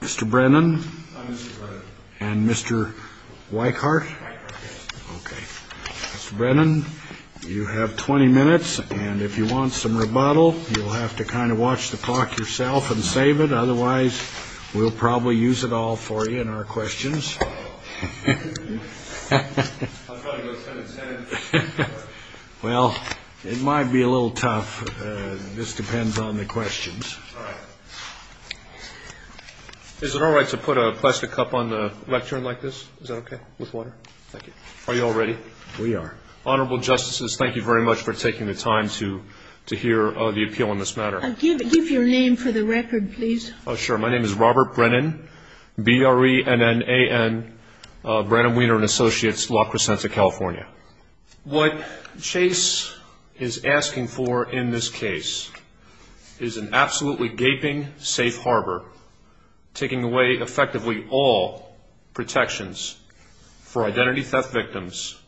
Mr. Brennan and Mr. Weickhardt. Mr. Brennan you have 20 minutes and if you want some rebuttal you'll have to kind of watch the clock yourself and save it otherwise we'll probably use it all for you in our questions. Well it might be a little tough this depends on the questions. Is it all right to put a plastic cup on the lectern like this? Is that okay? With water? Thank you. Are you all ready? We are. Honorable Justices thank you very much for taking the time to to hear the appeal on this matter. Give your name for the record please. Oh sure my name is Robert Brennan B-R-E-N-N-A-N Brennan, Weiner & Associates, La Crescenta, California. What Chase is asking for in this case is an absolutely gaping safe harbor taking away effectively all protections for identity theft victims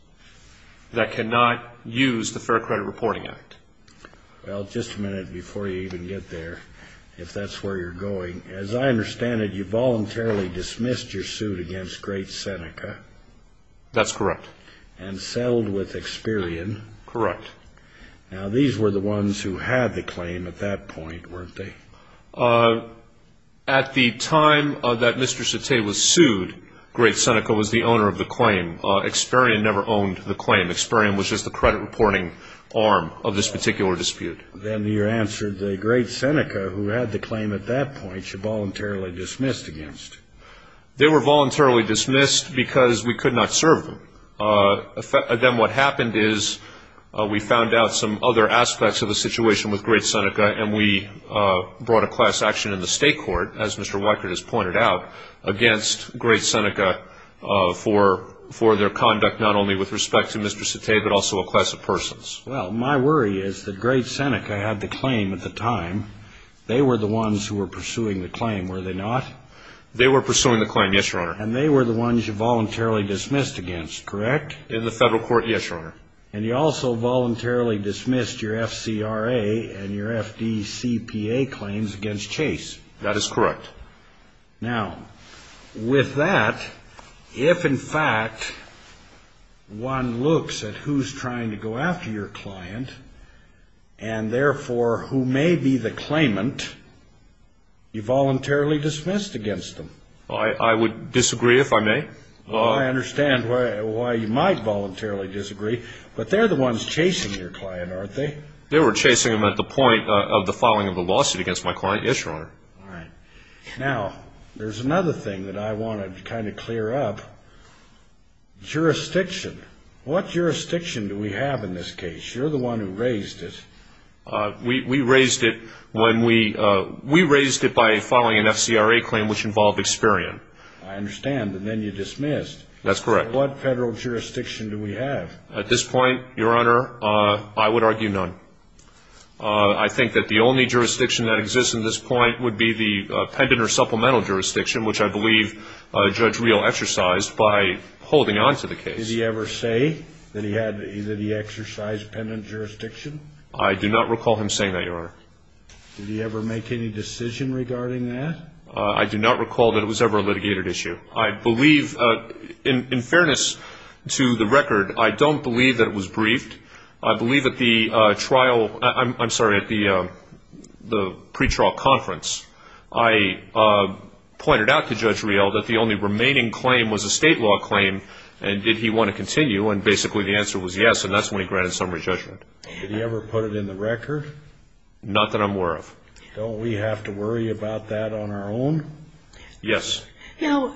that cannot use the Fair Credit Reporting Act. Well just a minute before you even get there if that's where you're going as I understand it you voluntarily dismissed your suit against Great Seneca? That's correct. And settled with Experian? Correct. Now these were the ones who had the claim at that point weren't they? At the time that Mr. Sette was sued Great Seneca was the owner of the claim Experian never owned the claim Experian was just the credit reporting arm of this particular dispute. Then you answered the Great Seneca who had the claim against? They were voluntarily dismissed because we could not serve them. Then what happened is we found out some other aspects of the situation with Great Seneca and we brought a class action in the state court as Mr. Weikert has pointed out against Great Seneca for their conduct not only with respect to Mr. Sette but also a class of persons. Well my worry is that Great Seneca had the claim at the time they were the ones who were pursuing the claim were they not? They were pursuing the claim yes your honor. And they were the ones you voluntarily dismissed against correct? In the federal court yes your honor. And you also voluntarily dismissed your FCRA and your FDCPA claims against Chase? That is correct. Now with that if in fact one looks at who's trying to go after your client. They were chasing them at the point of the filing of the lawsuit against my client yes your honor. Now there's another thing that I want to kind of clear up. Jurisdiction. What jurisdiction do we have in this case? You're the one who raised it. We raised it when we we raised it by filing an FCRA claim which involved Experian. I understand and then you dismissed. That's correct. What federal jurisdiction do we have? At this point your honor I would argue none. I think that the only jurisdiction that exists in this point would be the pendent or supplemental jurisdiction which I believe Judge Real exercised by holding on to the case. Did he ever say that he exercised pendent jurisdiction? I do not recall him saying that your honor. Did he ever make any decision regarding that? I do not recall that it was ever a litigated issue. I believe in fairness to the record I don't believe that it was briefed. I believe that the trial I'm sorry at the the pretrial conference I pointed out to Judge Real that the only remaining claim was a state law claim and did he want to continue and basically the answer was yes and that's when he granted summary judgment. Did he ever put it in the record? Not that I'm aware of. Don't we have to worry about that on our own? Yes. Now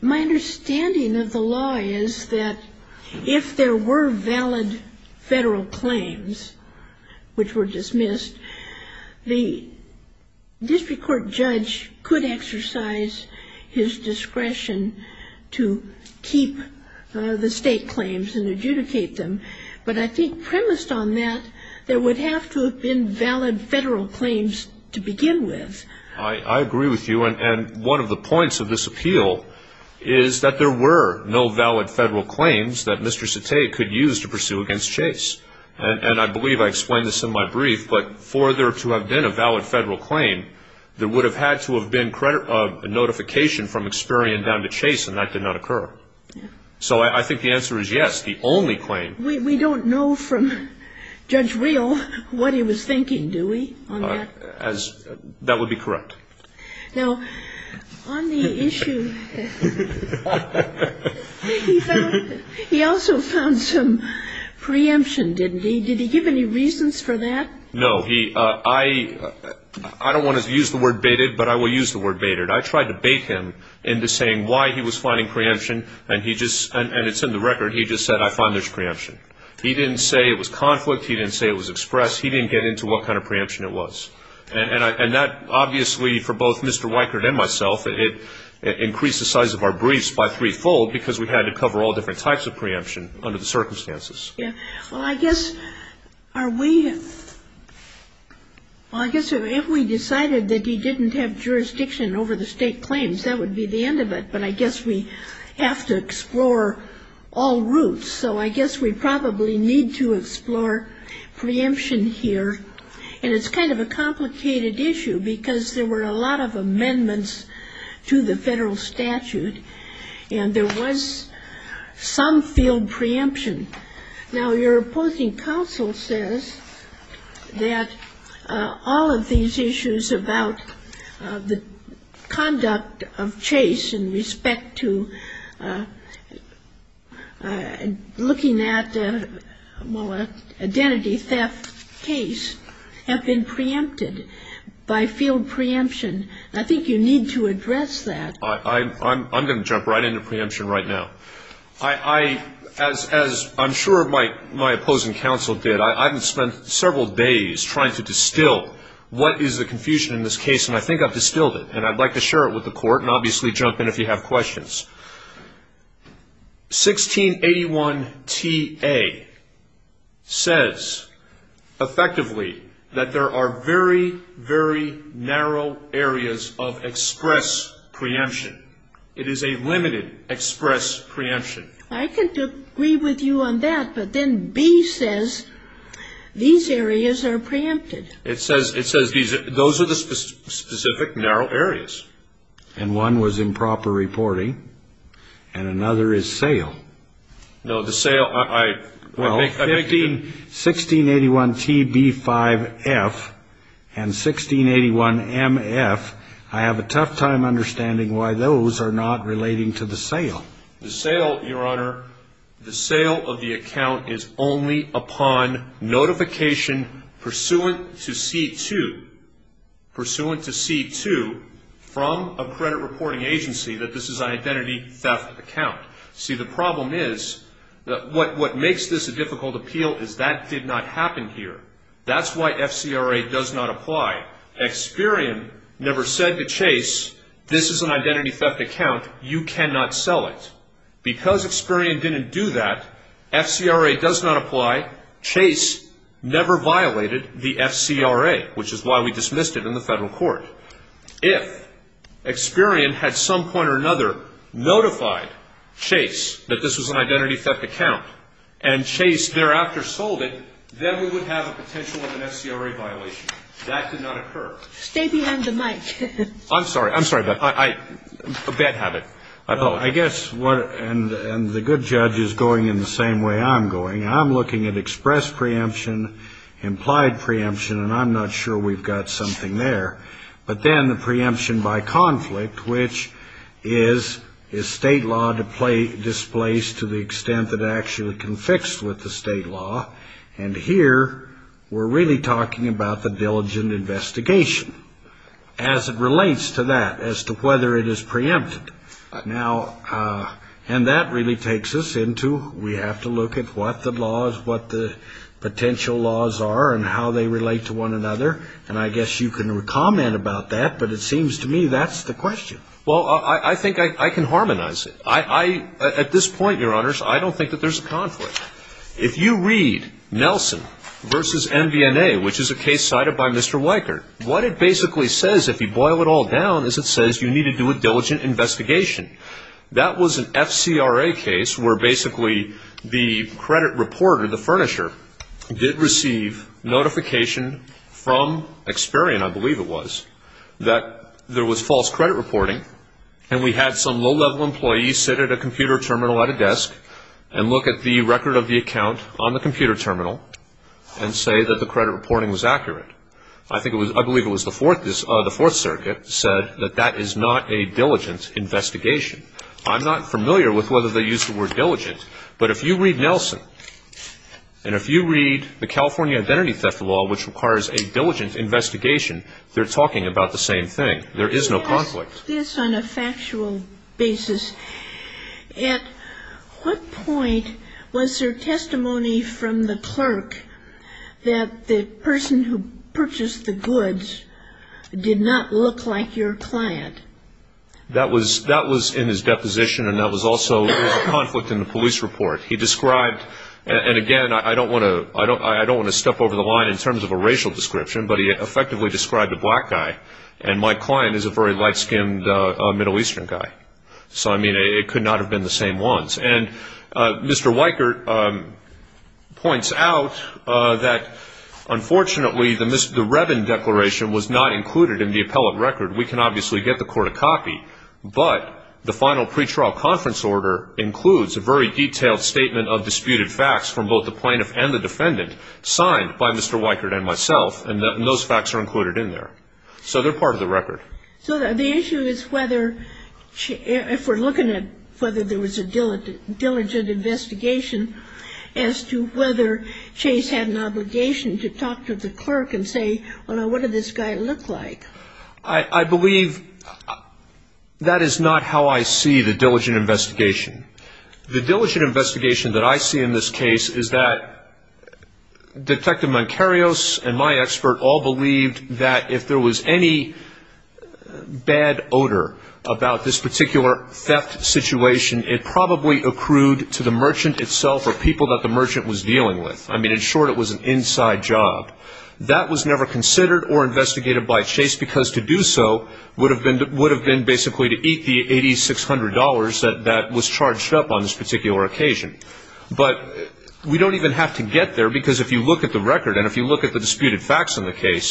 my understanding of the law is that if there were valid federal claims which were dismissed the district court judge could exercise his discretion to keep the state claims and adjudicate them but I think premised on that there would have to have been valid federal claims to begin with. I agree with you and one of the points of this appeal is that there were no valid federal claims that Mr. Satay could use to pursue against Chase and I believe I explained this in my brief but for there to have been a valid federal claim there would have had to have been a notification from Experian down to Chase and that did not occur. So I think the answer is yes. The only claim. We don't know from Judge Real what he was thinking do we? That would be correct. Now on the issue he also found some preemption didn't he? Did he give any reasons for that? No. I don't want to use the word baited but I will use the word baited. I tried to bait him into saying why he was finding preemption and he just and it's in the record he just said I found there's preemption. He didn't say it was conflict he didn't say it was express he didn't get into what kind of preemption it was and that obviously for both Mr. Weichert and myself it increased the size of our briefs by three-fold because we had to are we I guess if we decided that he didn't have jurisdiction over the state claims that would be the end of it but I guess we have to explore all routes so I guess we probably need to explore preemption here and it's kind of a complicated issue because there were a lot of amendments to the federal statute and there was some field preemption. Now your opposing counsel says that all of these issues about the conduct of chase in respect to looking at identity theft case have been preempted by field preemption. I think you need to address that. I'm going to jump right into preemption right now. As I'm sure my opposing counsel did I haven't spent several days trying to distill what is the confusion in this case and I think I've distilled it and I'd like to share it with the court and obviously jump in if you have questions. 1681 TA says effectively that there are very very narrow areas of express preemption. It is a limited express preemption. I can agree with you on that but then B says these areas are preempted. It says it says these those are the specific narrow areas. And one was improper reporting and another is sale. No the sale I well 1681 TB5F and 1681 MF I have a tough time understanding why those are not relating to the sale. The sale your honor the sale of the account is only upon notification pursuant to C2 pursuant to C2 from a credit reporting agency that this is identity theft account. See the problem is that what what makes this a failed appeal is that did not happen here. That's why FCRA does not apply. Experian never said to Chase this is an identity theft account you cannot sell it. Because Experian didn't do that FCRA does not apply. Chase never violated the FCRA which is why we dismissed it in the federal court. If Experian had some point or another notified Chase that this was an identity theft account and thereafter sold it then we would have a potential of an FCRA violation. That did not occur. Stay behind the mic. I'm sorry I'm sorry but I a bad habit. I apologize. I guess what and the good judge is going in the same way I'm going. I'm looking at express preemption implied preemption and I'm not sure we've got something there. But then the preemption by conflict which is is state law to play displaced to the state law and here we're really talking about the diligent investigation as it relates to that as to whether it is preempted. Now and that really takes us into we have to look at what the laws what the potential laws are and how they relate to one another and I guess you can comment about that but it seems to me that's the question. Well I think I can harmonize it. I at this point your conflict. If you read Nelson versus MVNA which is a case cited by Mr. Weicker what it basically says if you boil it all down is it says you need to do a diligent investigation. That was an FCRA case where basically the credit reporter the furnisher did receive notification from Experian I believe it was that there was false credit reporting and we had some low-level employees sit at a the record of the account on the computer terminal and say that the credit reporting was accurate. I think it was I believe it was the fourth this the Fourth Circuit said that that is not a diligent investigation. I'm not familiar with whether they used the word diligent but if you read Nelson and if you read the California identity theft law which requires a diligent investigation they're talking about the same thing. There is no conflict. Yes on a Was there testimony from the clerk that the person who purchased the goods did not look like your client? That was that was in his deposition and that was also a conflict in the police report. He described and again I don't want to I don't I don't want to step over the line in terms of a racial description but he effectively described a black guy and my client is a very light-skinned Middle Eastern guy. So I mean it could not have been the same ones and Mr. Weichert points out that unfortunately the Revin declaration was not included in the appellate record. We can obviously get the court a copy but the final pretrial conference order includes a very detailed statement of disputed facts from both the plaintiff and the defendant signed by Mr. Weichert and myself and those facts are included in there. So they're part of the record. So the issue is whether if we're looking at whether there was a diligent investigation as to whether Chase had an obligation to talk to the clerk and say well what did this guy look like? I believe that is not how I see the diligent investigation. The diligent investigation that I see in this case is that Detective Moncario's and my expert all believed that if there was any bad odor about this particular theft situation it probably accrued to the merchant itself or people that the merchant was dealing with. I mean in short it was an inside job. That was never considered or investigated by Chase because to do so would have been basically to eat the $8,600 that was charged up on this particular occasion. But we don't even have to get there because if you look at the record and if you look at the disputed facts in the record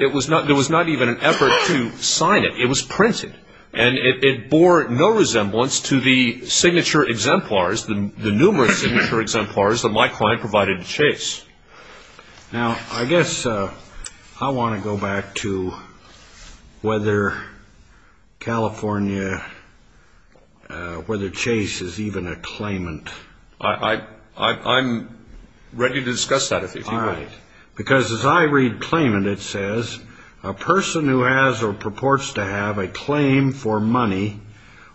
it was not even an effort to sign it. It was printed and it bore no resemblance to the signature exemplars, the numerous signature exemplars that my client provided to Chase. Now I guess I want to go back to whether California whether Chase is even a claimant. I'm ready to discuss that if you want. Because as I read claimant it says a person who has or purports to have a claim for money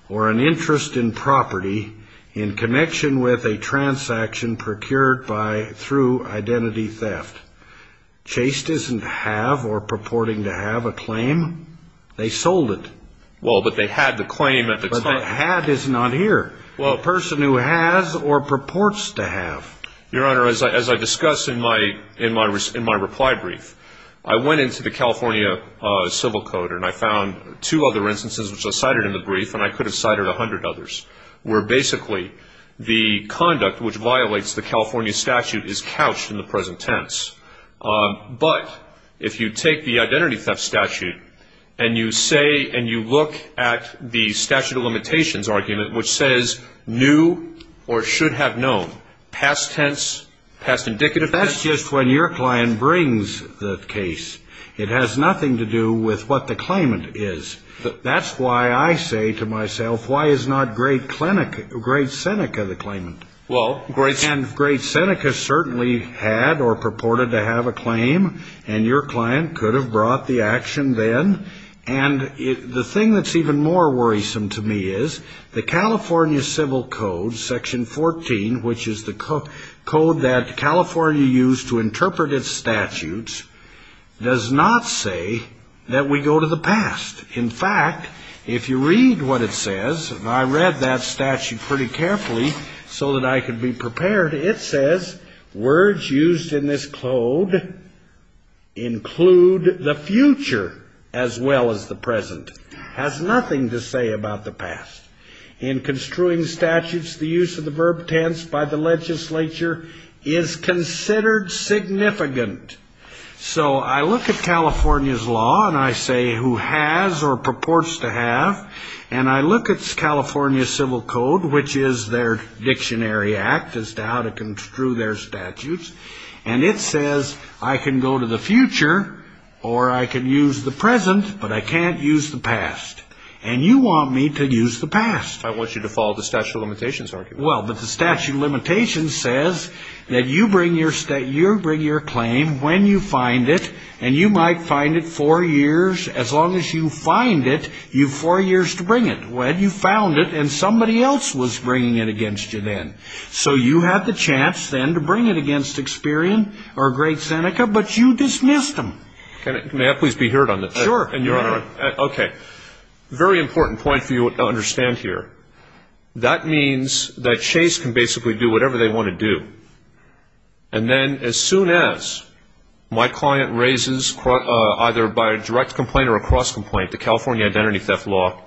or an interest in property in connection with a transaction procured by through identity theft. Chase doesn't have or purporting to have a claim. They sold it. Well but they had the claim. But had is not here. Well a person who has or purports to have. Your Honor as I discussed in my reply brief I went into the California civil code and I found two other instances which are cited in the brief and I could have cited a hundred others where basically the conduct which violates the California statute is couched in the present tense. But if you take the identity theft statute and you say and you look at the statute of limitations argument which says new or should have known. Past tense, past indicative. That's just when your client brings the case. It has nothing to do with what the claimant is. That's why I say to myself why is not Great Seneca the claimant. Well Great Seneca certainly had or purported to have a claim and your client could have brought the action then and the thing that's even more worrisome to me is the California civil code section 14 which is the code that California used to interpret its statutes does not say that we go to the past. In fact if you read what it says and I read that statute pretty carefully so that I could be future as well as the present has nothing to say about the past. In construing statutes the use of the verb tense by the legislature is considered significant. So I look at California's law and I say who has or purports to have and I look at California civil code which is their dictionary act as to how to construe their statutes and it says I can go to the future or I can use the present but I can't use the past and you want me to use the past. I want you to follow the statute of limitations argument. Well but the statute of limitations says that you bring your claim when you find it and you might find it four years as long as you find it you have four years to bring it. Well you found it and somebody else was bringing it against you then. So you had the chance then to bring it against Experian or Great Seneca but you dismissed them. May I please be heard on this? Sure. Okay. Very important point for you to understand here. That means that Chase can basically do whatever they want to do and then as soon as my client raises either by a direct complaint or a cross complaint the California identity theft law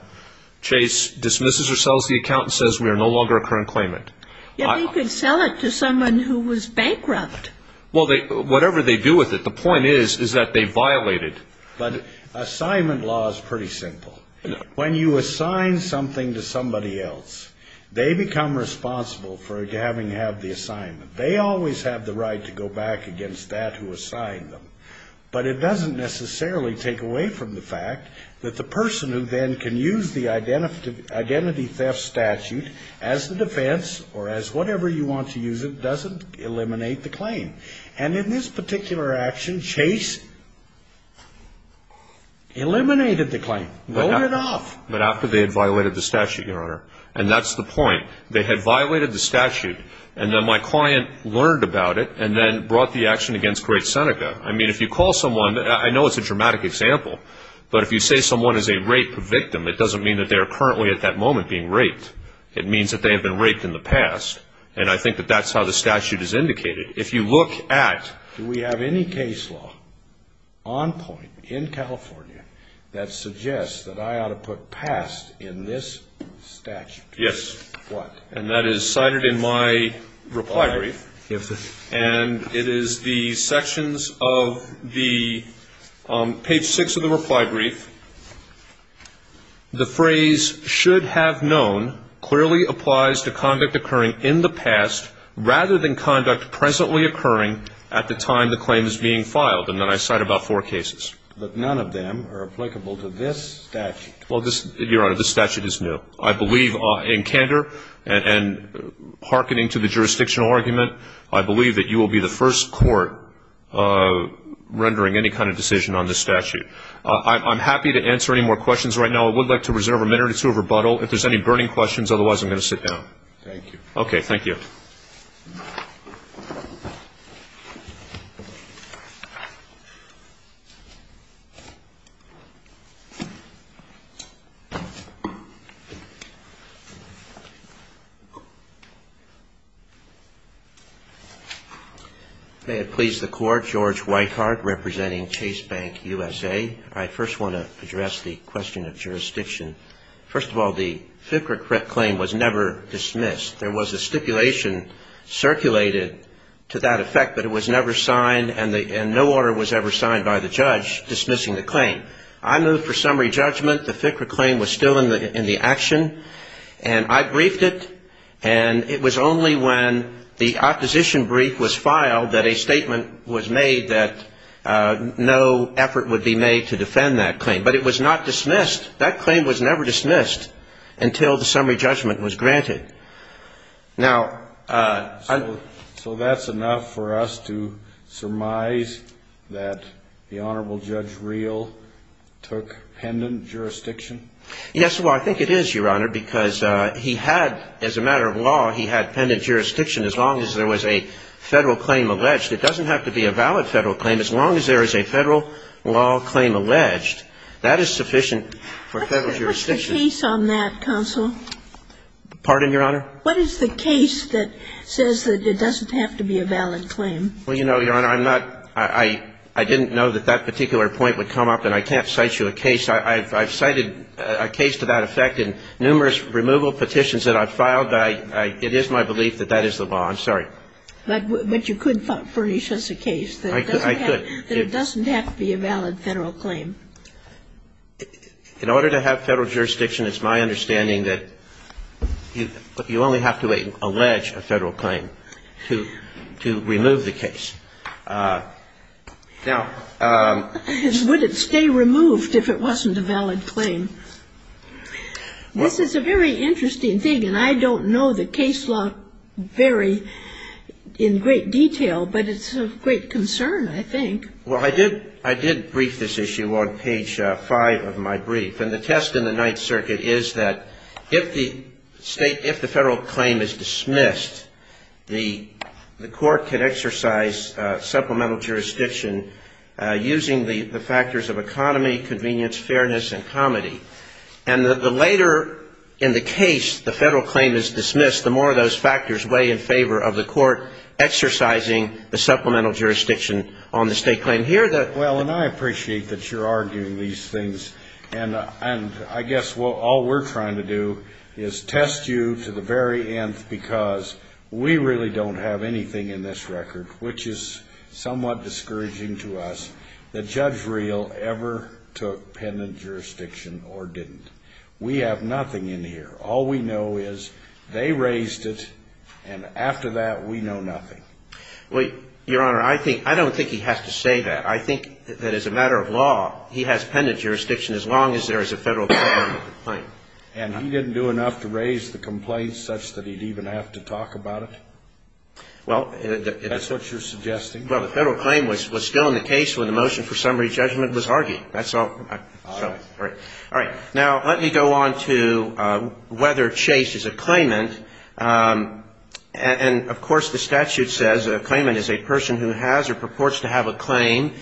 Chase dismisses or sells the account and says we are no longer a current claimant. Yet they could sell it to someone who was bankrupt. Well whatever they do with it the point is is that they violated. But assignment law is pretty simple. When you assign something to somebody else they become responsible for having to have the assignment. They always have the right to go back against that who assigned them but it doesn't necessarily take away from the fact that the person who then can use the identity theft statute as the defense or as whatever you want to use it doesn't eliminate the claim. And in this particular action Chase eliminated the claim. Rolled it off. But after they had violated the statute, Your Honor. And that's the point. They had violated the statute and then my client learned about it and then brought the action against Great Seneca. I mean if you call someone, I know it's a dramatic example, but if you say someone is a rape victim it doesn't mean that they are currently at that moment being raped. It means that they have been raped in the past and I think that that's how the statute is indicated. If you look at, do we have any case law on point in California that suggests that I ought to put past in this statute? Yes. And that is cited in my reply brief and it is the sections of the page 6 of the reply brief. The phrase should have known clearly applies to conduct occurring in the past rather than conduct presently occurring at the time the claim is being filed. And then I cite about four cases. But none of them are applicable to this statute. Well, Your Honor, this statute is new. I believe in candor and hearkening to the jurisdictional argument, I believe that you will be the first court rendering any kind of decision on this statute. I'm happy to answer any more questions right now. I would like to reserve a minute or two of rebuttal. If there are any burning questions, otherwise I'm going to sit down. Thank you. Okay, thank you. May it please the Court. George Whitehardt representing Chase Bank USA. I first want to address the question of jurisdiction. First of all, the FICRA claim was never dismissed. There was a stipulation circulated to that effect, but it was never signed and no order was ever signed by the judge dismissing the claim. I move for summary judgment. The FICRA claim was still in the action and I briefed it and it was only when the opposition brief was filed that a statement was made that no effort would be made to defend that claim. But it was not dismissed. That claim was never dismissed until the summary judgment was granted. Now, I'm So that's enough for us to surmise that the Honorable Judge Reel took pendant jurisdiction? Yes, well, I think it is, Your Honor, because he had, as a federal claim alleged, it doesn't have to be a valid federal claim. As long as there is a federal law claim alleged, that is sufficient for federal jurisdiction. What's the case on that, counsel? Pardon, Your Honor? What is the case that says that it doesn't have to be a valid claim? Well, you know, Your Honor, I'm not – I didn't know that that particular point would come up and I can't cite you a case. I've cited a case to that effect in numerous removal petitions that I've But you could furnish us a case that it doesn't have to be a valid federal claim. I could. In order to have federal jurisdiction, it's my understanding that you only have to allege a federal claim to remove the case. Now, would it stay in great detail? But it's of great concern, I think. Well, I did – I did brief this issue on page 5 of my brief. And the test in the Ninth Circuit is that if the state – if the federal claim is dismissed, the court can exercise supplemental jurisdiction using the factors of economy, convenience, fairness, and comity. And the later in the case the federal claim is dismissed, the more of those factors weigh in favor of the court exercising the supplemental jurisdiction on the state claim. Here, the – Well, and I appreciate that you're arguing these things. And I guess all we're trying to do is test you to the very end because we really don't have anything in this record which is somewhat discouraging to us that Judge Reel ever took Well, Your Honor, I think – I don't think he has to say that. I think that as a matter of law, he has pendant jurisdiction as long as there is a federal claim. And he didn't do enough to raise the complaint such that he'd even have to talk about it? Well, it – That's what you're suggesting? Well, the federal claim was still in the case when the motion for summary judgment was argued. That's all I'm – All right. All right. Now, let me go on to whether Chase is a claimant. And of course, the statute says a claimant is a person who has or purports to have a claim.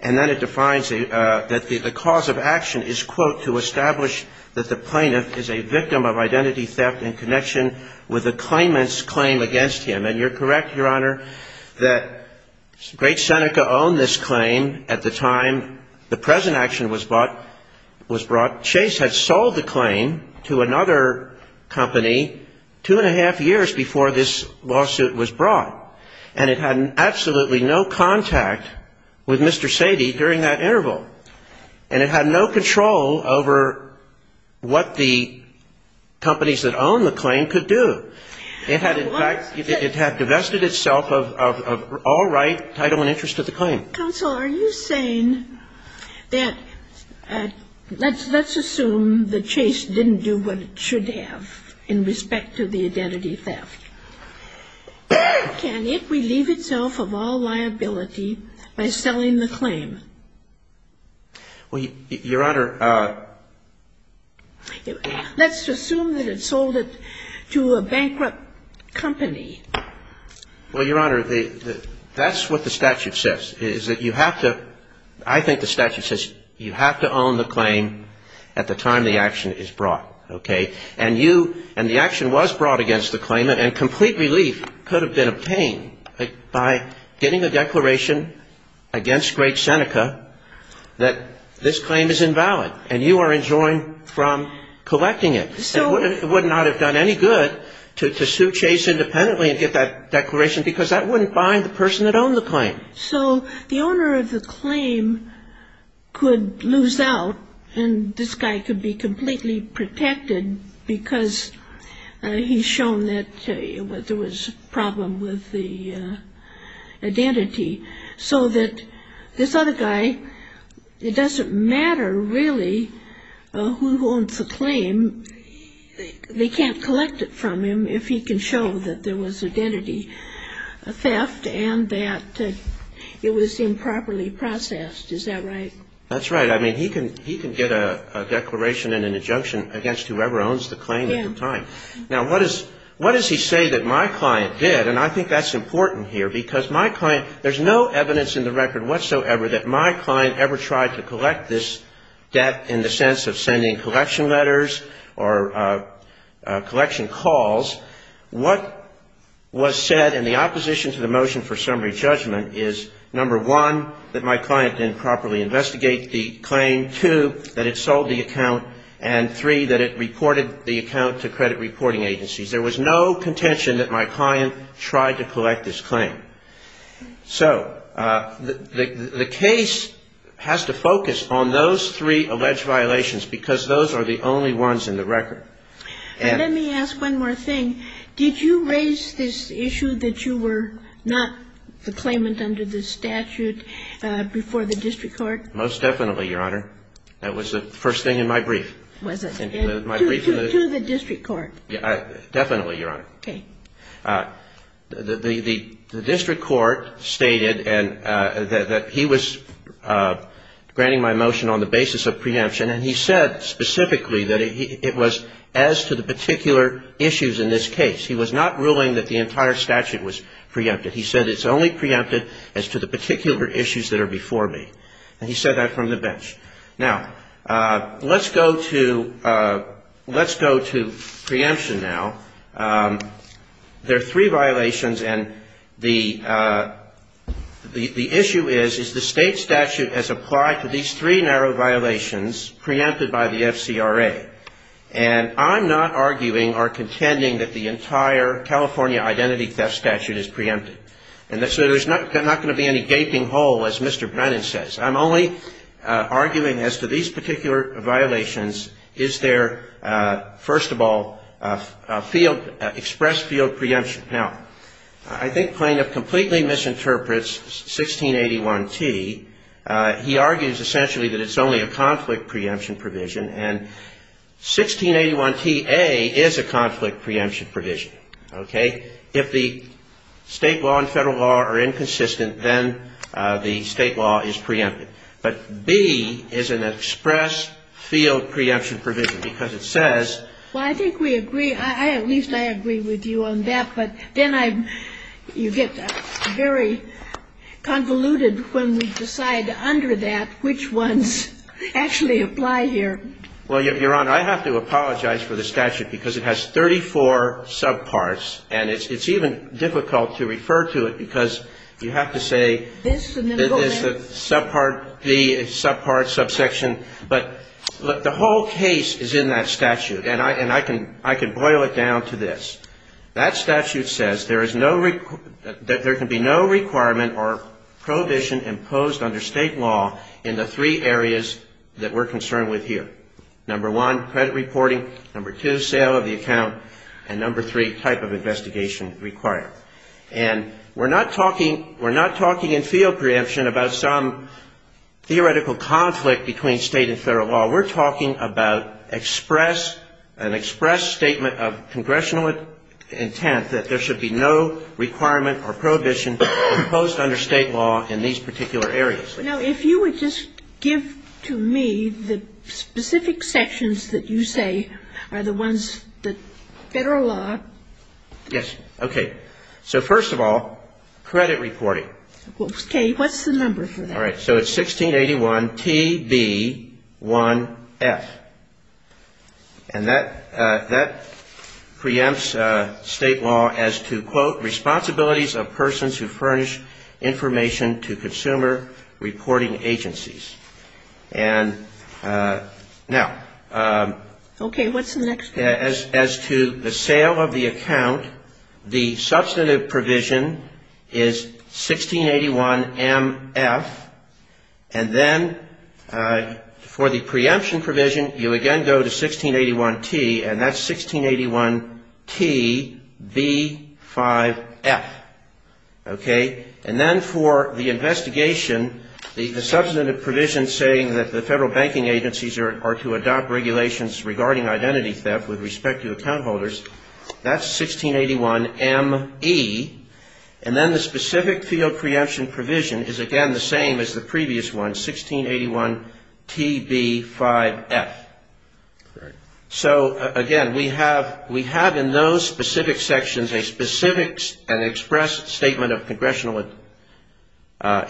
And then it defines that the cause of action is, quote, to establish that the plaintiff is a victim of identity theft in connection with the claimant's claim against him. And you're correct, Your Honor, that Great Seneca owned this claim at the time the present action was brought. Chase had sold the claim to another company two-and-a-half years before this lawsuit was brought. And it had absolutely no contact with Mr. Sady during that interval. And it had no control over what the companies that owned the claim could do. It had, in fact, it had divested itself of all right, title and interest to the claim. Counsel, are you saying that – let's assume that Chase didn't do what it should have in respect to the identity theft. Can it relieve itself of all liability by selling the claim? Well, Your Honor, let's assume that it sold it to a bankrupt company. Well, Your Honor, that's what the statute says, is that you have to – I think the statute says you have to own the claim at the time the action is brought, okay? And you – and the action was brought against the claimant, and complete relief could have been obtained by getting a declaration against Great Seneca that this claim is invalid, and you are enjoined from collecting it. It would not have done any good to sue Chase independently and get that declaration because that wouldn't bind the person that owned the claim. So the owner of the claim could lose out, and this guy could be completely protected because he's shown that there was a problem with the They can't collect it from him if he can show that there was identity theft and that it was improperly processed. Is that right? That's right. I mean, he can get a declaration and an injunction against whoever owns the claim at the time. Now, what does he say that my client did? And I think that's important here because my client – there's no evidence in the record whatsoever that my client ever tried to collect this debt in the sense of sending collection letters or collection calls. What was said in the opposition to the motion for summary judgment is, number one, that my client didn't properly investigate the claim, two, that it sold the account, and three, that it reported the account to credit reporting agencies. There was no contention that my client tried to collect this claim. So the case has to focus on those three alleged violations because those are the only ones in the record. Let me ask one more thing. Did you raise this issue that you were not the claimant under the statute before the district court? Most definitely, Your Honor. That was the first thing in my brief. To the district court? Definitely, Your Honor. Okay. Now, the district court stated that he was granting my motion on the basis of preemption, and he said specifically that it was as to the particular issues in this case. He was not ruling that the entire statute was preempted. He said it's only preempted as to the particular issues that are before me. And he said that from the bench. Now, let's go to preemption now. There are three violations, and the issue is, is the State statute has applied to these three narrow violations preempted by the FCRA. And I'm not arguing or contending that the entire California identity theft statute is preempted. And so there's not going to be any gaping hole, as Mr. Brennan says. I'm only arguing as to these particular violations, is there, first of all, a field, express field preemption. Now, I think Plano completely misinterprets 1681T. He argues essentially that it's only a conflict preemption provision. And 1681T-A is a conflict preemption provision. Okay? If the State law and Federal law are inconsistent, then the State law is preempted. But B is an express field preemption provision, because it says ---- Well, Your Honor, I have to apologize for the statute, because it has 34 subparts, and it's even difficult to refer to it, because you have to say the subpart, subsection. But the whole case is in that statute, and I can boil it down to this. That statute says there is no ---- that there can be no requirement or prohibition imposed under State law in the three areas that we're concerned with here. Number one, credit reporting. Number two, sale of the account. And number three, type of investigation required. And we're not talking in field preemption about some theoretical conflict between State and Federal law. We're talking about express ---- an express statement of congressional intent that there should be no requirement or prohibition imposed under State law in these particular areas. Now, if you would just give to me the specific sections that you say are the ones that Federal law ---- Yes. Okay. So first of all, credit reporting. Okay. What's the number for that? All right. So it's 1681TB1F. And that preempts State law as to, quote, responsibilities of persons who furnish information to consumer reporting agencies. And now ---- Okay. What's the next one? As to the sale of the account, the substantive provision is 1681MF. And then for the preemption provision, you again go to 1681T, and that's 1681TB5F. Okay. And then for the investigation, the substantive provision saying that the Federal banking agencies are to adopt regulations regarding identity theft with respect to account holders, that's 1681ME. And then the specific field preemption provision is, again, the same as the previous one, 1681TB5F. Correct. So, again, we have in those specific sections a specific and expressed statement of congressional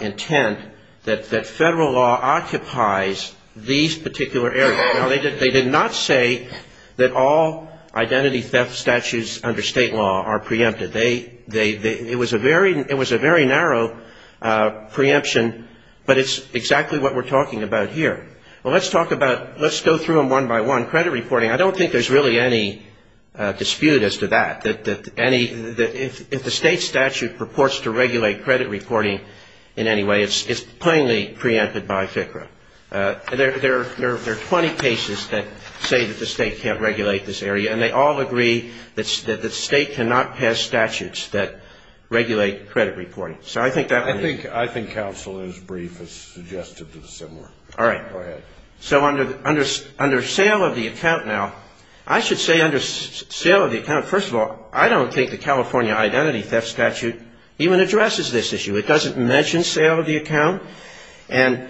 intent that Federal law occupies these particular areas. Now, they did not say that all identity theft statutes under State law are preempted. They ---- it was a very narrow preemption, but it's exactly what we're talking about here. Well, let's talk about ---- let's go through them one by one. Credit reporting, I don't think there's really any dispute as to that, that any ---- that if the State statute purports to regulate credit reporting in any way, it's plainly preempted by FCRA. There are 20 cases that say that the State can't regulate this area, and they all agree that the State cannot pass statutes that regulate credit reporting. So I think that would be ---- I think counsel is brief as suggested to the similar. All right. Go ahead. So under sale of the account now, I should say under sale of the account, first of all, I don't think the California identity theft statute even addresses this issue. It doesn't mention sale of the account. And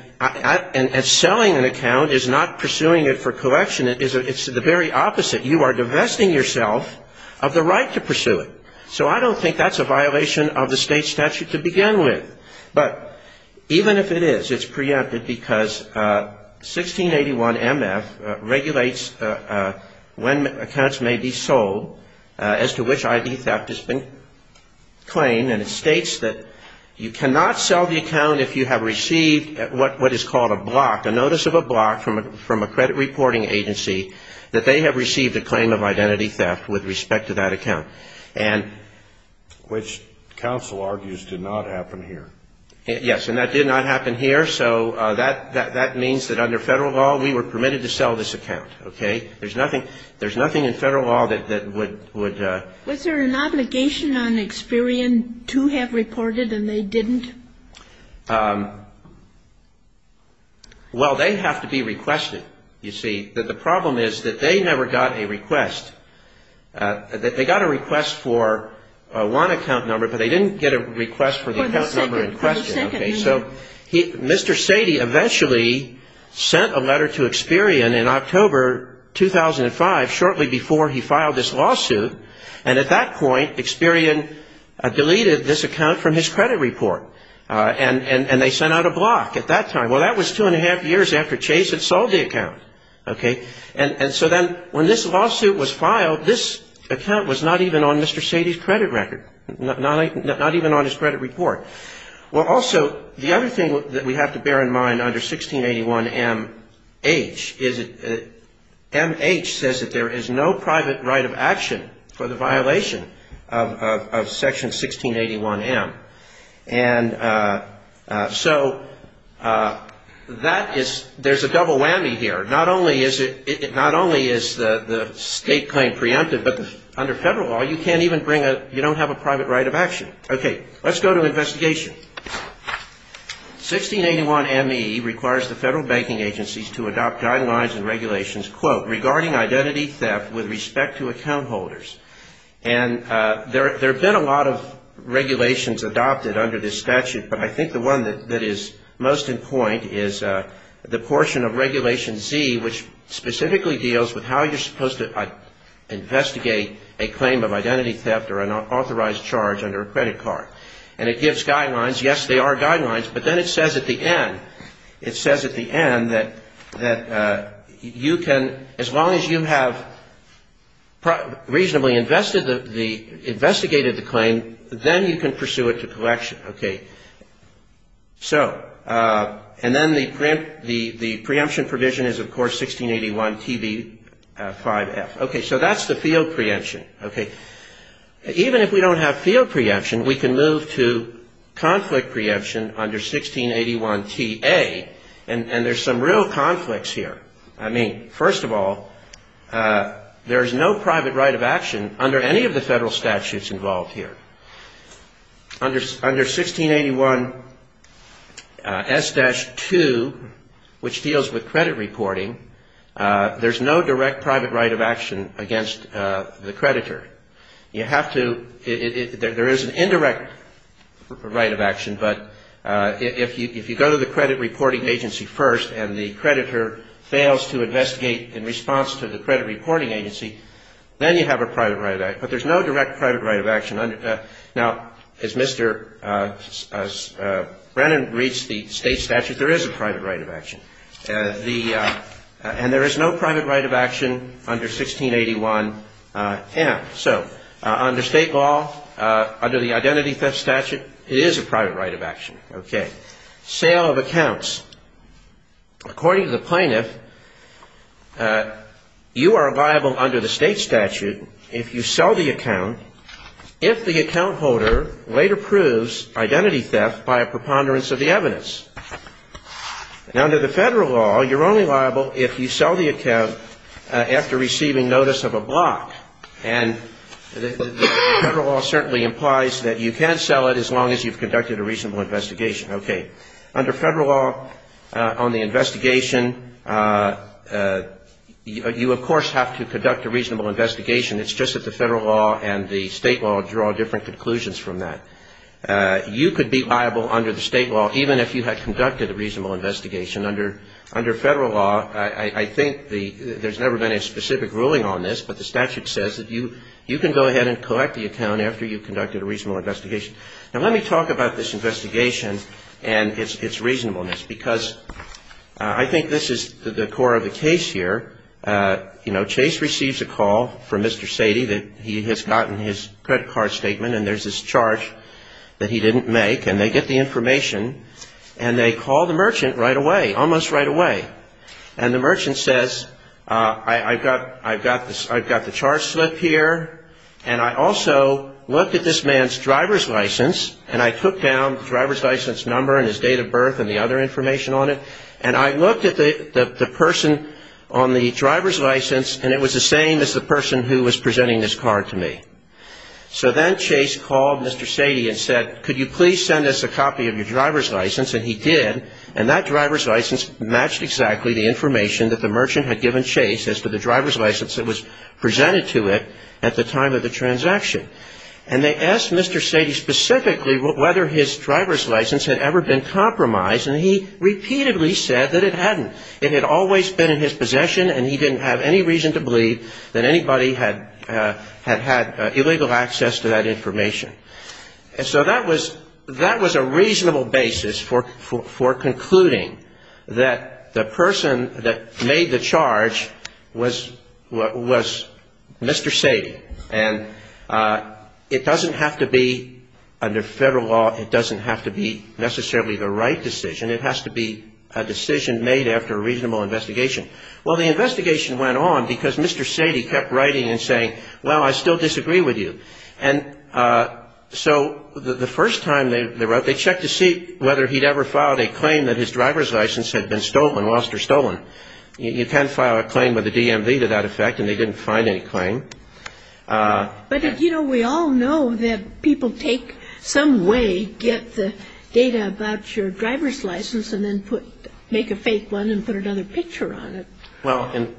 selling an account is not pursuing it for collection. It's the very opposite. You are divesting yourself of the right to pursue it. So I don't think that's a violation of the State statute to begin with. But even if it is, it's preempted because 1681 MF regulates when accounts may be sold as to which ID theft has been claimed. And it states that you cannot sell the account if you have received what is called a block, a notice of a block from a credit reporting agency, that they have received a claim of identity theft with respect to that account. And ---- Which counsel argues did not happen here. Yes. And that did not happen here. So that means that under Federal law, we were permitted to sell this account. Okay? There's nothing in Federal law that would ---- Was there an obligation on Experian to have reported and they didn't? Well, they have to be requested, you see. The problem is that they never got a request. They got a request for one account number, but they didn't get a request for the account number in question. For the second year. Okay. So Mr. Sadie eventually sent a letter to Experian in October 2005, shortly before he filed this lawsuit. And at that point, Experian deleted this account from his credit report. And they sent out a block at that time. Well, that was two and a half years after Chase had sold the account. Okay? And so then when this lawsuit was filed, this account was not even on Mr. Sadie's credit record. Not even on his credit report. Well, also, the other thing that we have to bear in mind under 1681MH is that MH says that there is no private right of action for the violation of Section 1681M. And so that is, there's a double whammy here. Not only is the state claim preempted, but under federal law, you can't even bring a, you don't have a private right of action. Okay. Let's go to investigation. 1681MH requires the federal banking agencies to adopt guidelines and regulations, quote, regarding identity theft with respect to account holders. And there have been a lot of regulations adopted under this statute, but I think the one that is most in point is the portion of Regulation Z, which specifically deals with how you're supposed to investigate a claim of identity theft or an authorized charge under a credit card. And it gives guidelines. Yes, they are guidelines. But then it says at the end, it says at the end that you can, as long as you have reasonably investigated the claim, then you can pursue it to collection. Okay. So, and then the preemption provision is, of course, 1681TV5F. Okay. So that's the field preemption. Okay. Even if we don't have field preemption, we can move to conflict preemption under 1681TA, and there's some real conflicts here. I mean, first of all, there is no private right of action under any of the federal statutes involved here. Under 1681S-2, which deals with credit reporting, there's no direct private right of action against the creditor. You have to, there is an indirect right of action, but if you go to the credit reporting agency first and the creditor fails to investigate in response to the credit reporting agency, then you have a private right of action. But there's no direct private right of action. Now, as Mr. Brennan reads the state statute, there is a private right of action. And there is no private right of action under 1681M. Okay. So under state law, under the identity theft statute, it is a private right of action. Okay. Sale of accounts. According to the plaintiff, you are liable under the state statute if you sell the account, if the account holder later proves identity theft by a preponderance of the evidence. Now, under the federal law, you're only liable if you sell the account after receiving notice of a block. And the federal law certainly implies that you can sell it as long as you've conducted a reasonable investigation. Okay. Under federal law, on the investigation, you, of course, have to conduct a reasonable investigation. It's just that the federal law and the state law draw different conclusions from that. You could be liable under the state law even if you had conducted a reasonable investigation. Under federal law, I think there's never been a specific ruling on this, but the statute says that you can go ahead and collect the account after you've conducted a reasonable investigation. Now, let me talk about this investigation and its reasonableness, because I think this is the core of the case here. You know, Chase receives a call from Mr. Sadie that he has gotten his credit card statement, and there's this charge that he didn't make. And they get the information, and they call the merchant right away, almost right away. And the merchant says, I've got the charge slip here, and I also looked at this man's driver's license, and I took down the driver's license number and his date of birth and the other information on it, and I looked at the person on the driver's license, and it was the same as the person who was presenting this card to me. So then Chase called Mr. Sadie and said, could you please send us a copy of your driver's license? And he did, and that driver's license matched exactly the information that the merchant had given Chase as to the driver's license that was presented to it at the time of the transaction. And they asked Mr. Sadie specifically whether his driver's license had ever been compromised, and he repeatedly said that it hadn't. It had always been in his possession, and he didn't have any reason to believe that anybody had had illegal access to that information. And so that was a reasonable basis for concluding that the person that made the charge was Mr. Sadie. And it doesn't have to be, under Federal law, it doesn't have to be necessarily the right decision. It has to be a decision made after a reasonable investigation. Well, the investigation went on because Mr. Sadie kept writing and saying, well, I still disagree with you. And so the first time they wrote, they checked to see whether he'd ever filed a claim that his driver's license had been stolen, lost or stolen. You can't file a claim with a DMV to that effect, and they didn't find any claim. But, you know, we all know that people take some way, get the data about your driver's license, and then make a fake one and put another picture on it. Well, in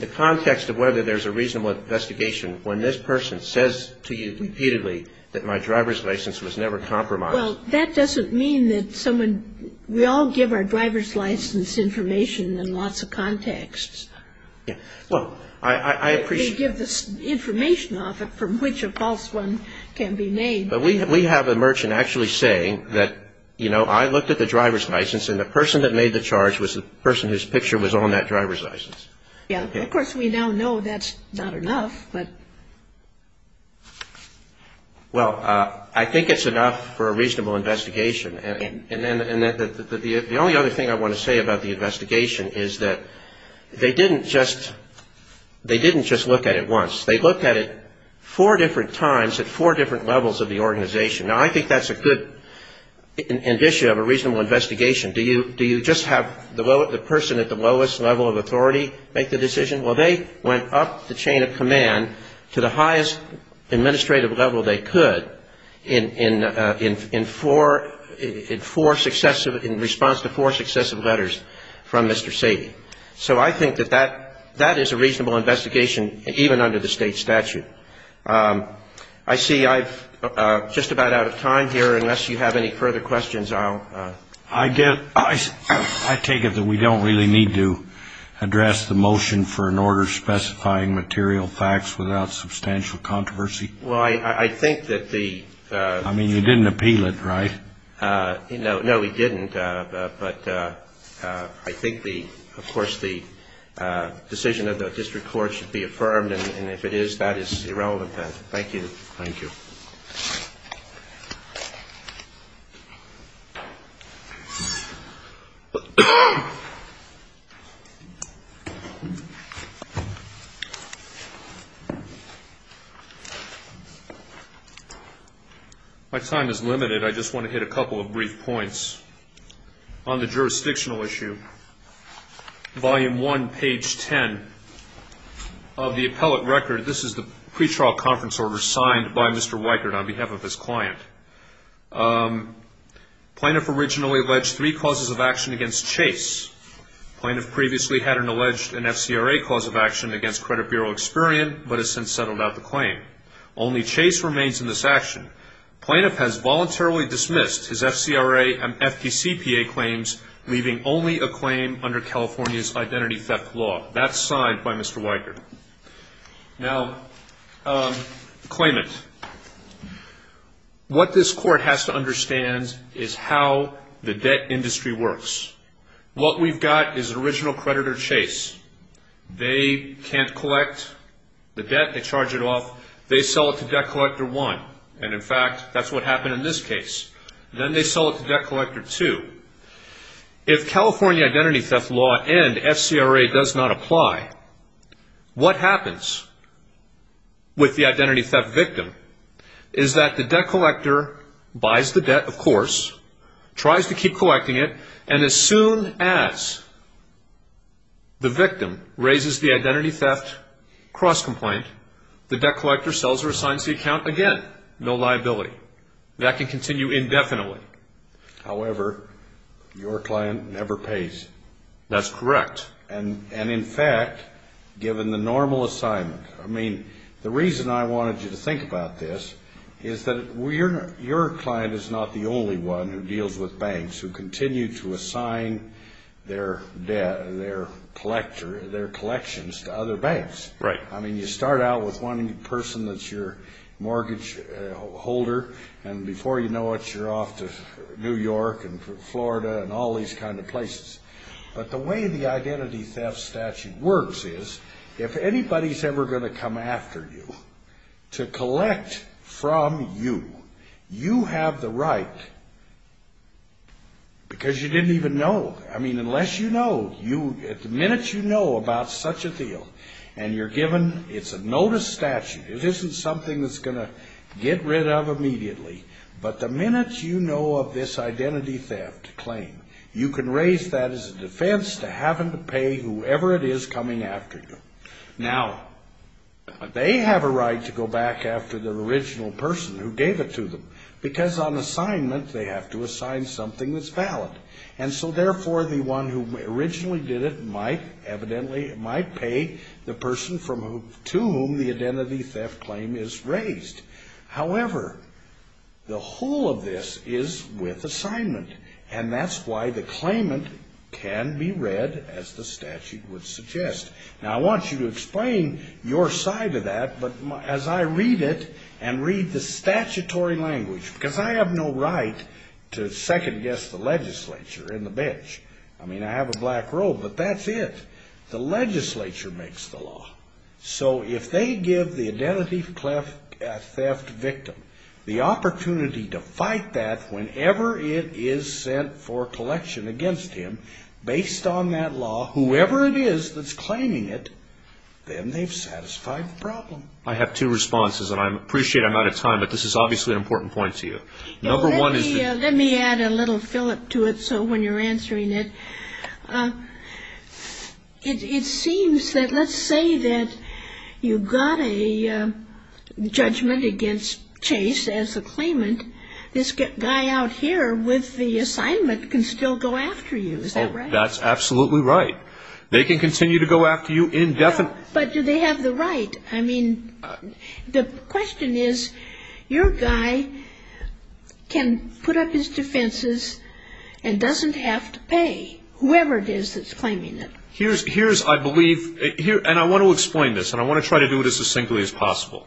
the context of whether there's a reasonable investigation, when this person says to you repeatedly that my driver's license was never compromised. Well, that doesn't mean that someone we all give our driver's license information in lots of contexts. Well, I appreciate. They give the information off it from which a false one can be made. But we have a merchant actually saying that, you know, I looked at the driver's license, and the person that made the charge was the person whose picture was on that driver's license. Yeah. Of course, we now know that's not enough, but. Well, I think it's enough for a reasonable investigation. And the only other thing I want to say about the investigation is that they didn't just look at it once. They looked at it four different times at four different levels of the organization. Now, I think that's a good indicia of a reasonable investigation. Do you just have the person at the lowest level of authority make the decision? Well, they went up the chain of command to the highest administrative level they could in four successive, in response to four successive letters from Mr. Sadie. So I think that that is a reasonable investigation, even under the state statute. I see I'm just about out of time here. Unless you have any further questions, I'll. I take it that we don't really need to address the motion for an order specifying material facts without substantial controversy? Well, I think that the. I mean, you didn't appeal it, right? No, no, we didn't. But I think the, of course, the decision of the district court should be affirmed. And if it is, that is irrelevant. Thank you. Thank you. My time is limited. I just want to hit a couple of brief points. On the jurisdictional issue, Volume 1, page 10 of the appellate record, this is the pretrial conference order signed by Mr. Weichert on behalf of his client. Plaintiff originally alleged three causes of action against Chase. Plaintiff previously had an alleged and FCRA cause of action against Credit Bureau Experian, but has since settled out the claim. Only Chase remains in this action. Plaintiff has voluntarily dismissed his FCRA and FPCPA claims, leaving only a claim under California's identity theft law. That's signed by Mr. Weichert. Now, claimant. What this court has to understand is how the debt industry works. What we've got is original creditor Chase. They can't collect the debt. They charge it off. They sell it to Debt Collector 1. And, in fact, that's what happened in this case. Then they sell it to Debt Collector 2. If California identity theft law and FCRA does not apply, what happens with the identity theft victim is that the debt collector buys the debt, of course, tries to keep collecting it, and as soon as the victim raises the identity theft cross-complaint, the debt collector sells or assigns the account again. No liability. That can continue indefinitely. However, your client never pays. That's correct. And, in fact, given the normal assignment. I mean, the reason I wanted you to think about this is that your client is not the only one who deals with banks who continue to assign their collections to other banks. Right. I mean, you start out with one person that's your mortgage holder, and before you know it, you're off to New York and Florida and all these kind of places. But the way the identity theft statute works is if anybody's ever going to come after you to collect from you, you have the right, because you didn't even know. I mean, unless you know. The minute you know about such a deal and you're given, it's a notice statute. It isn't something that's going to get rid of immediately. But the minute you know of this identity theft claim, you can raise that as a defense to having to pay whoever it is coming after you. Now, they have a right to go back after the original person who gave it to them, because on assignment, they have to assign something that's valid. And so, therefore, the one who originally did it might, evidently, might pay the person to whom the identity theft claim is raised. However, the whole of this is with assignment. And that's why the claimant can be read as the statute would suggest. Now, I want you to explain your side of that, but as I read it and read the statutory language, because I have no right to second-guess the legislature in the bench. I mean, I have a black robe, but that's it. The legislature makes the law. So if they give the identity theft victim the opportunity to fight that whenever it is sent for collection against him based on that law, whoever it is that's claiming it, then they've satisfied the problem. I have two responses, and I appreciate I'm out of time, but this is obviously an important point to you. Let me add a little fillip to it so when you're answering it, it seems that let's say that you got a judgment against Chase as a claimant. This guy out here with the assignment can still go after you. Is that right? That's absolutely right. They can continue to go after you indefinitely. But do they have the right? I mean, the question is your guy can put up his defenses and doesn't have to pay whoever it is that's claiming it. Here's, I believe, and I want to explain this, and I want to try to do it as succinctly as possible.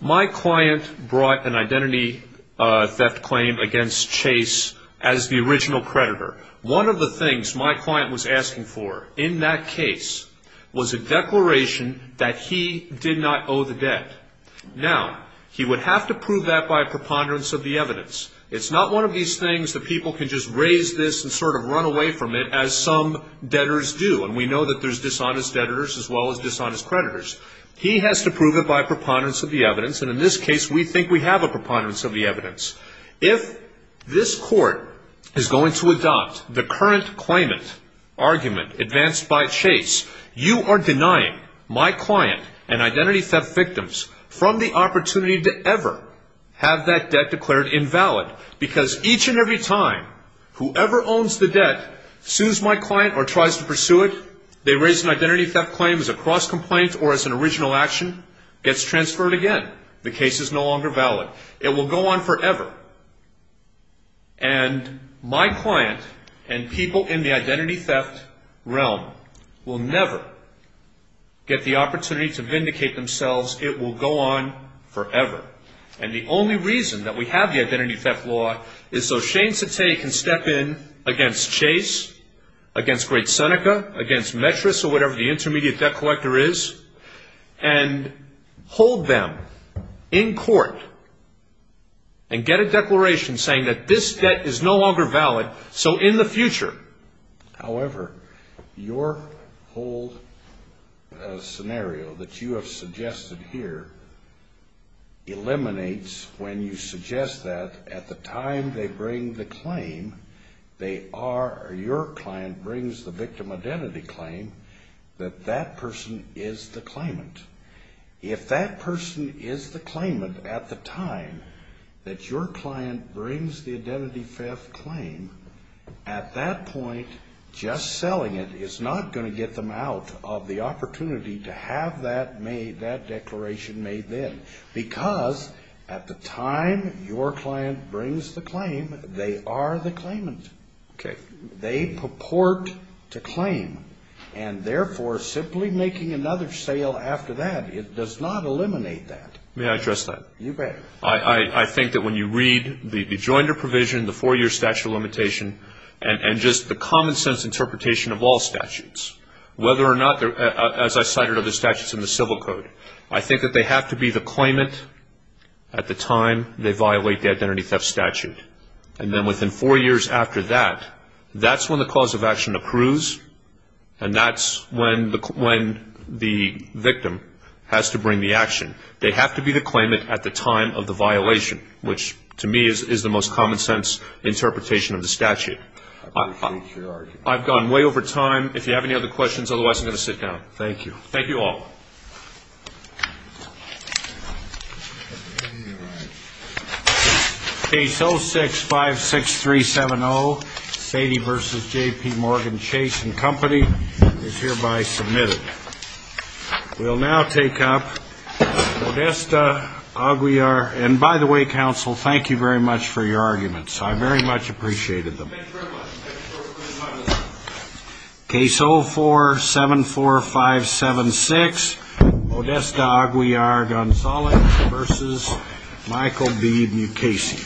My client brought an identity theft claim against Chase as the original predator. One of the things my client was asking for in that case was a declaration that he did not owe the debt. Now, he would have to prove that by preponderance of the evidence. It's not one of these things that people can just raise this and sort of run away from it as some debtors do, and we know that there's dishonest debtors as well as dishonest creditors. He has to prove it by preponderance of the evidence, and in this case, we think we have a preponderance of the evidence. If this court is going to adopt the current claimant argument advanced by Chase, you are denying my client and identity theft victims from the opportunity to ever have that debt declared invalid because each and every time whoever owns the debt sues my client or tries to pursue it, they raise an identity theft claim as a cross complaint or as an original action, gets transferred again. The case is no longer valid. It will go on forever, and my client and people in the identity theft realm will never get the opportunity to vindicate themselves. It will go on forever, and the only reason that we have the identity theft law is so Shane Satay can step in against Chase, against Great Seneca, against Metris or whatever the intermediate debt collector is, and hold them in court and get a declaration saying that this debt is no longer valid, so in the future. However, your whole scenario that you have suggested here eliminates when you suggest that at the time they bring the claim, they are, or your client brings the victim identity claim, that that person is the claimant. If that person is the claimant at the time that your client brings the identity theft claim, at that point, just selling it is not going to get them out of the opportunity to have that made, because at the time your client brings the claim, they are the claimant. They purport to claim, and therefore, simply making another sale after that, it does not eliminate that. May I address that? You may. I think that when you read the rejoinder provision, the four-year statute of limitation, and just the common sense interpretation of all statutes, whether or not, as I cited other statutes in the civil code, I think that they have to be the claimant at the time they violate the identity theft statute. And then within four years after that, that's when the cause of action approves, and that's when the victim has to bring the action. They have to be the claimant at the time of the violation, which to me is the most common sense interpretation of the statute. I appreciate your argument. I've gone way over time. If you have any other questions, otherwise I'm going to sit down. Thank you. Thank you all. Page 0656370, Sadie v. J.P. Morgan, Chase & Company, is hereby submitted. We'll now take up Modesta, Aguiar. And by the way, counsel, thank you very much for your arguments. I very much appreciated them. Thank you very much. Case 0474576, Modesta, Aguiar, Gonzalez v. Michael B. Mukasey.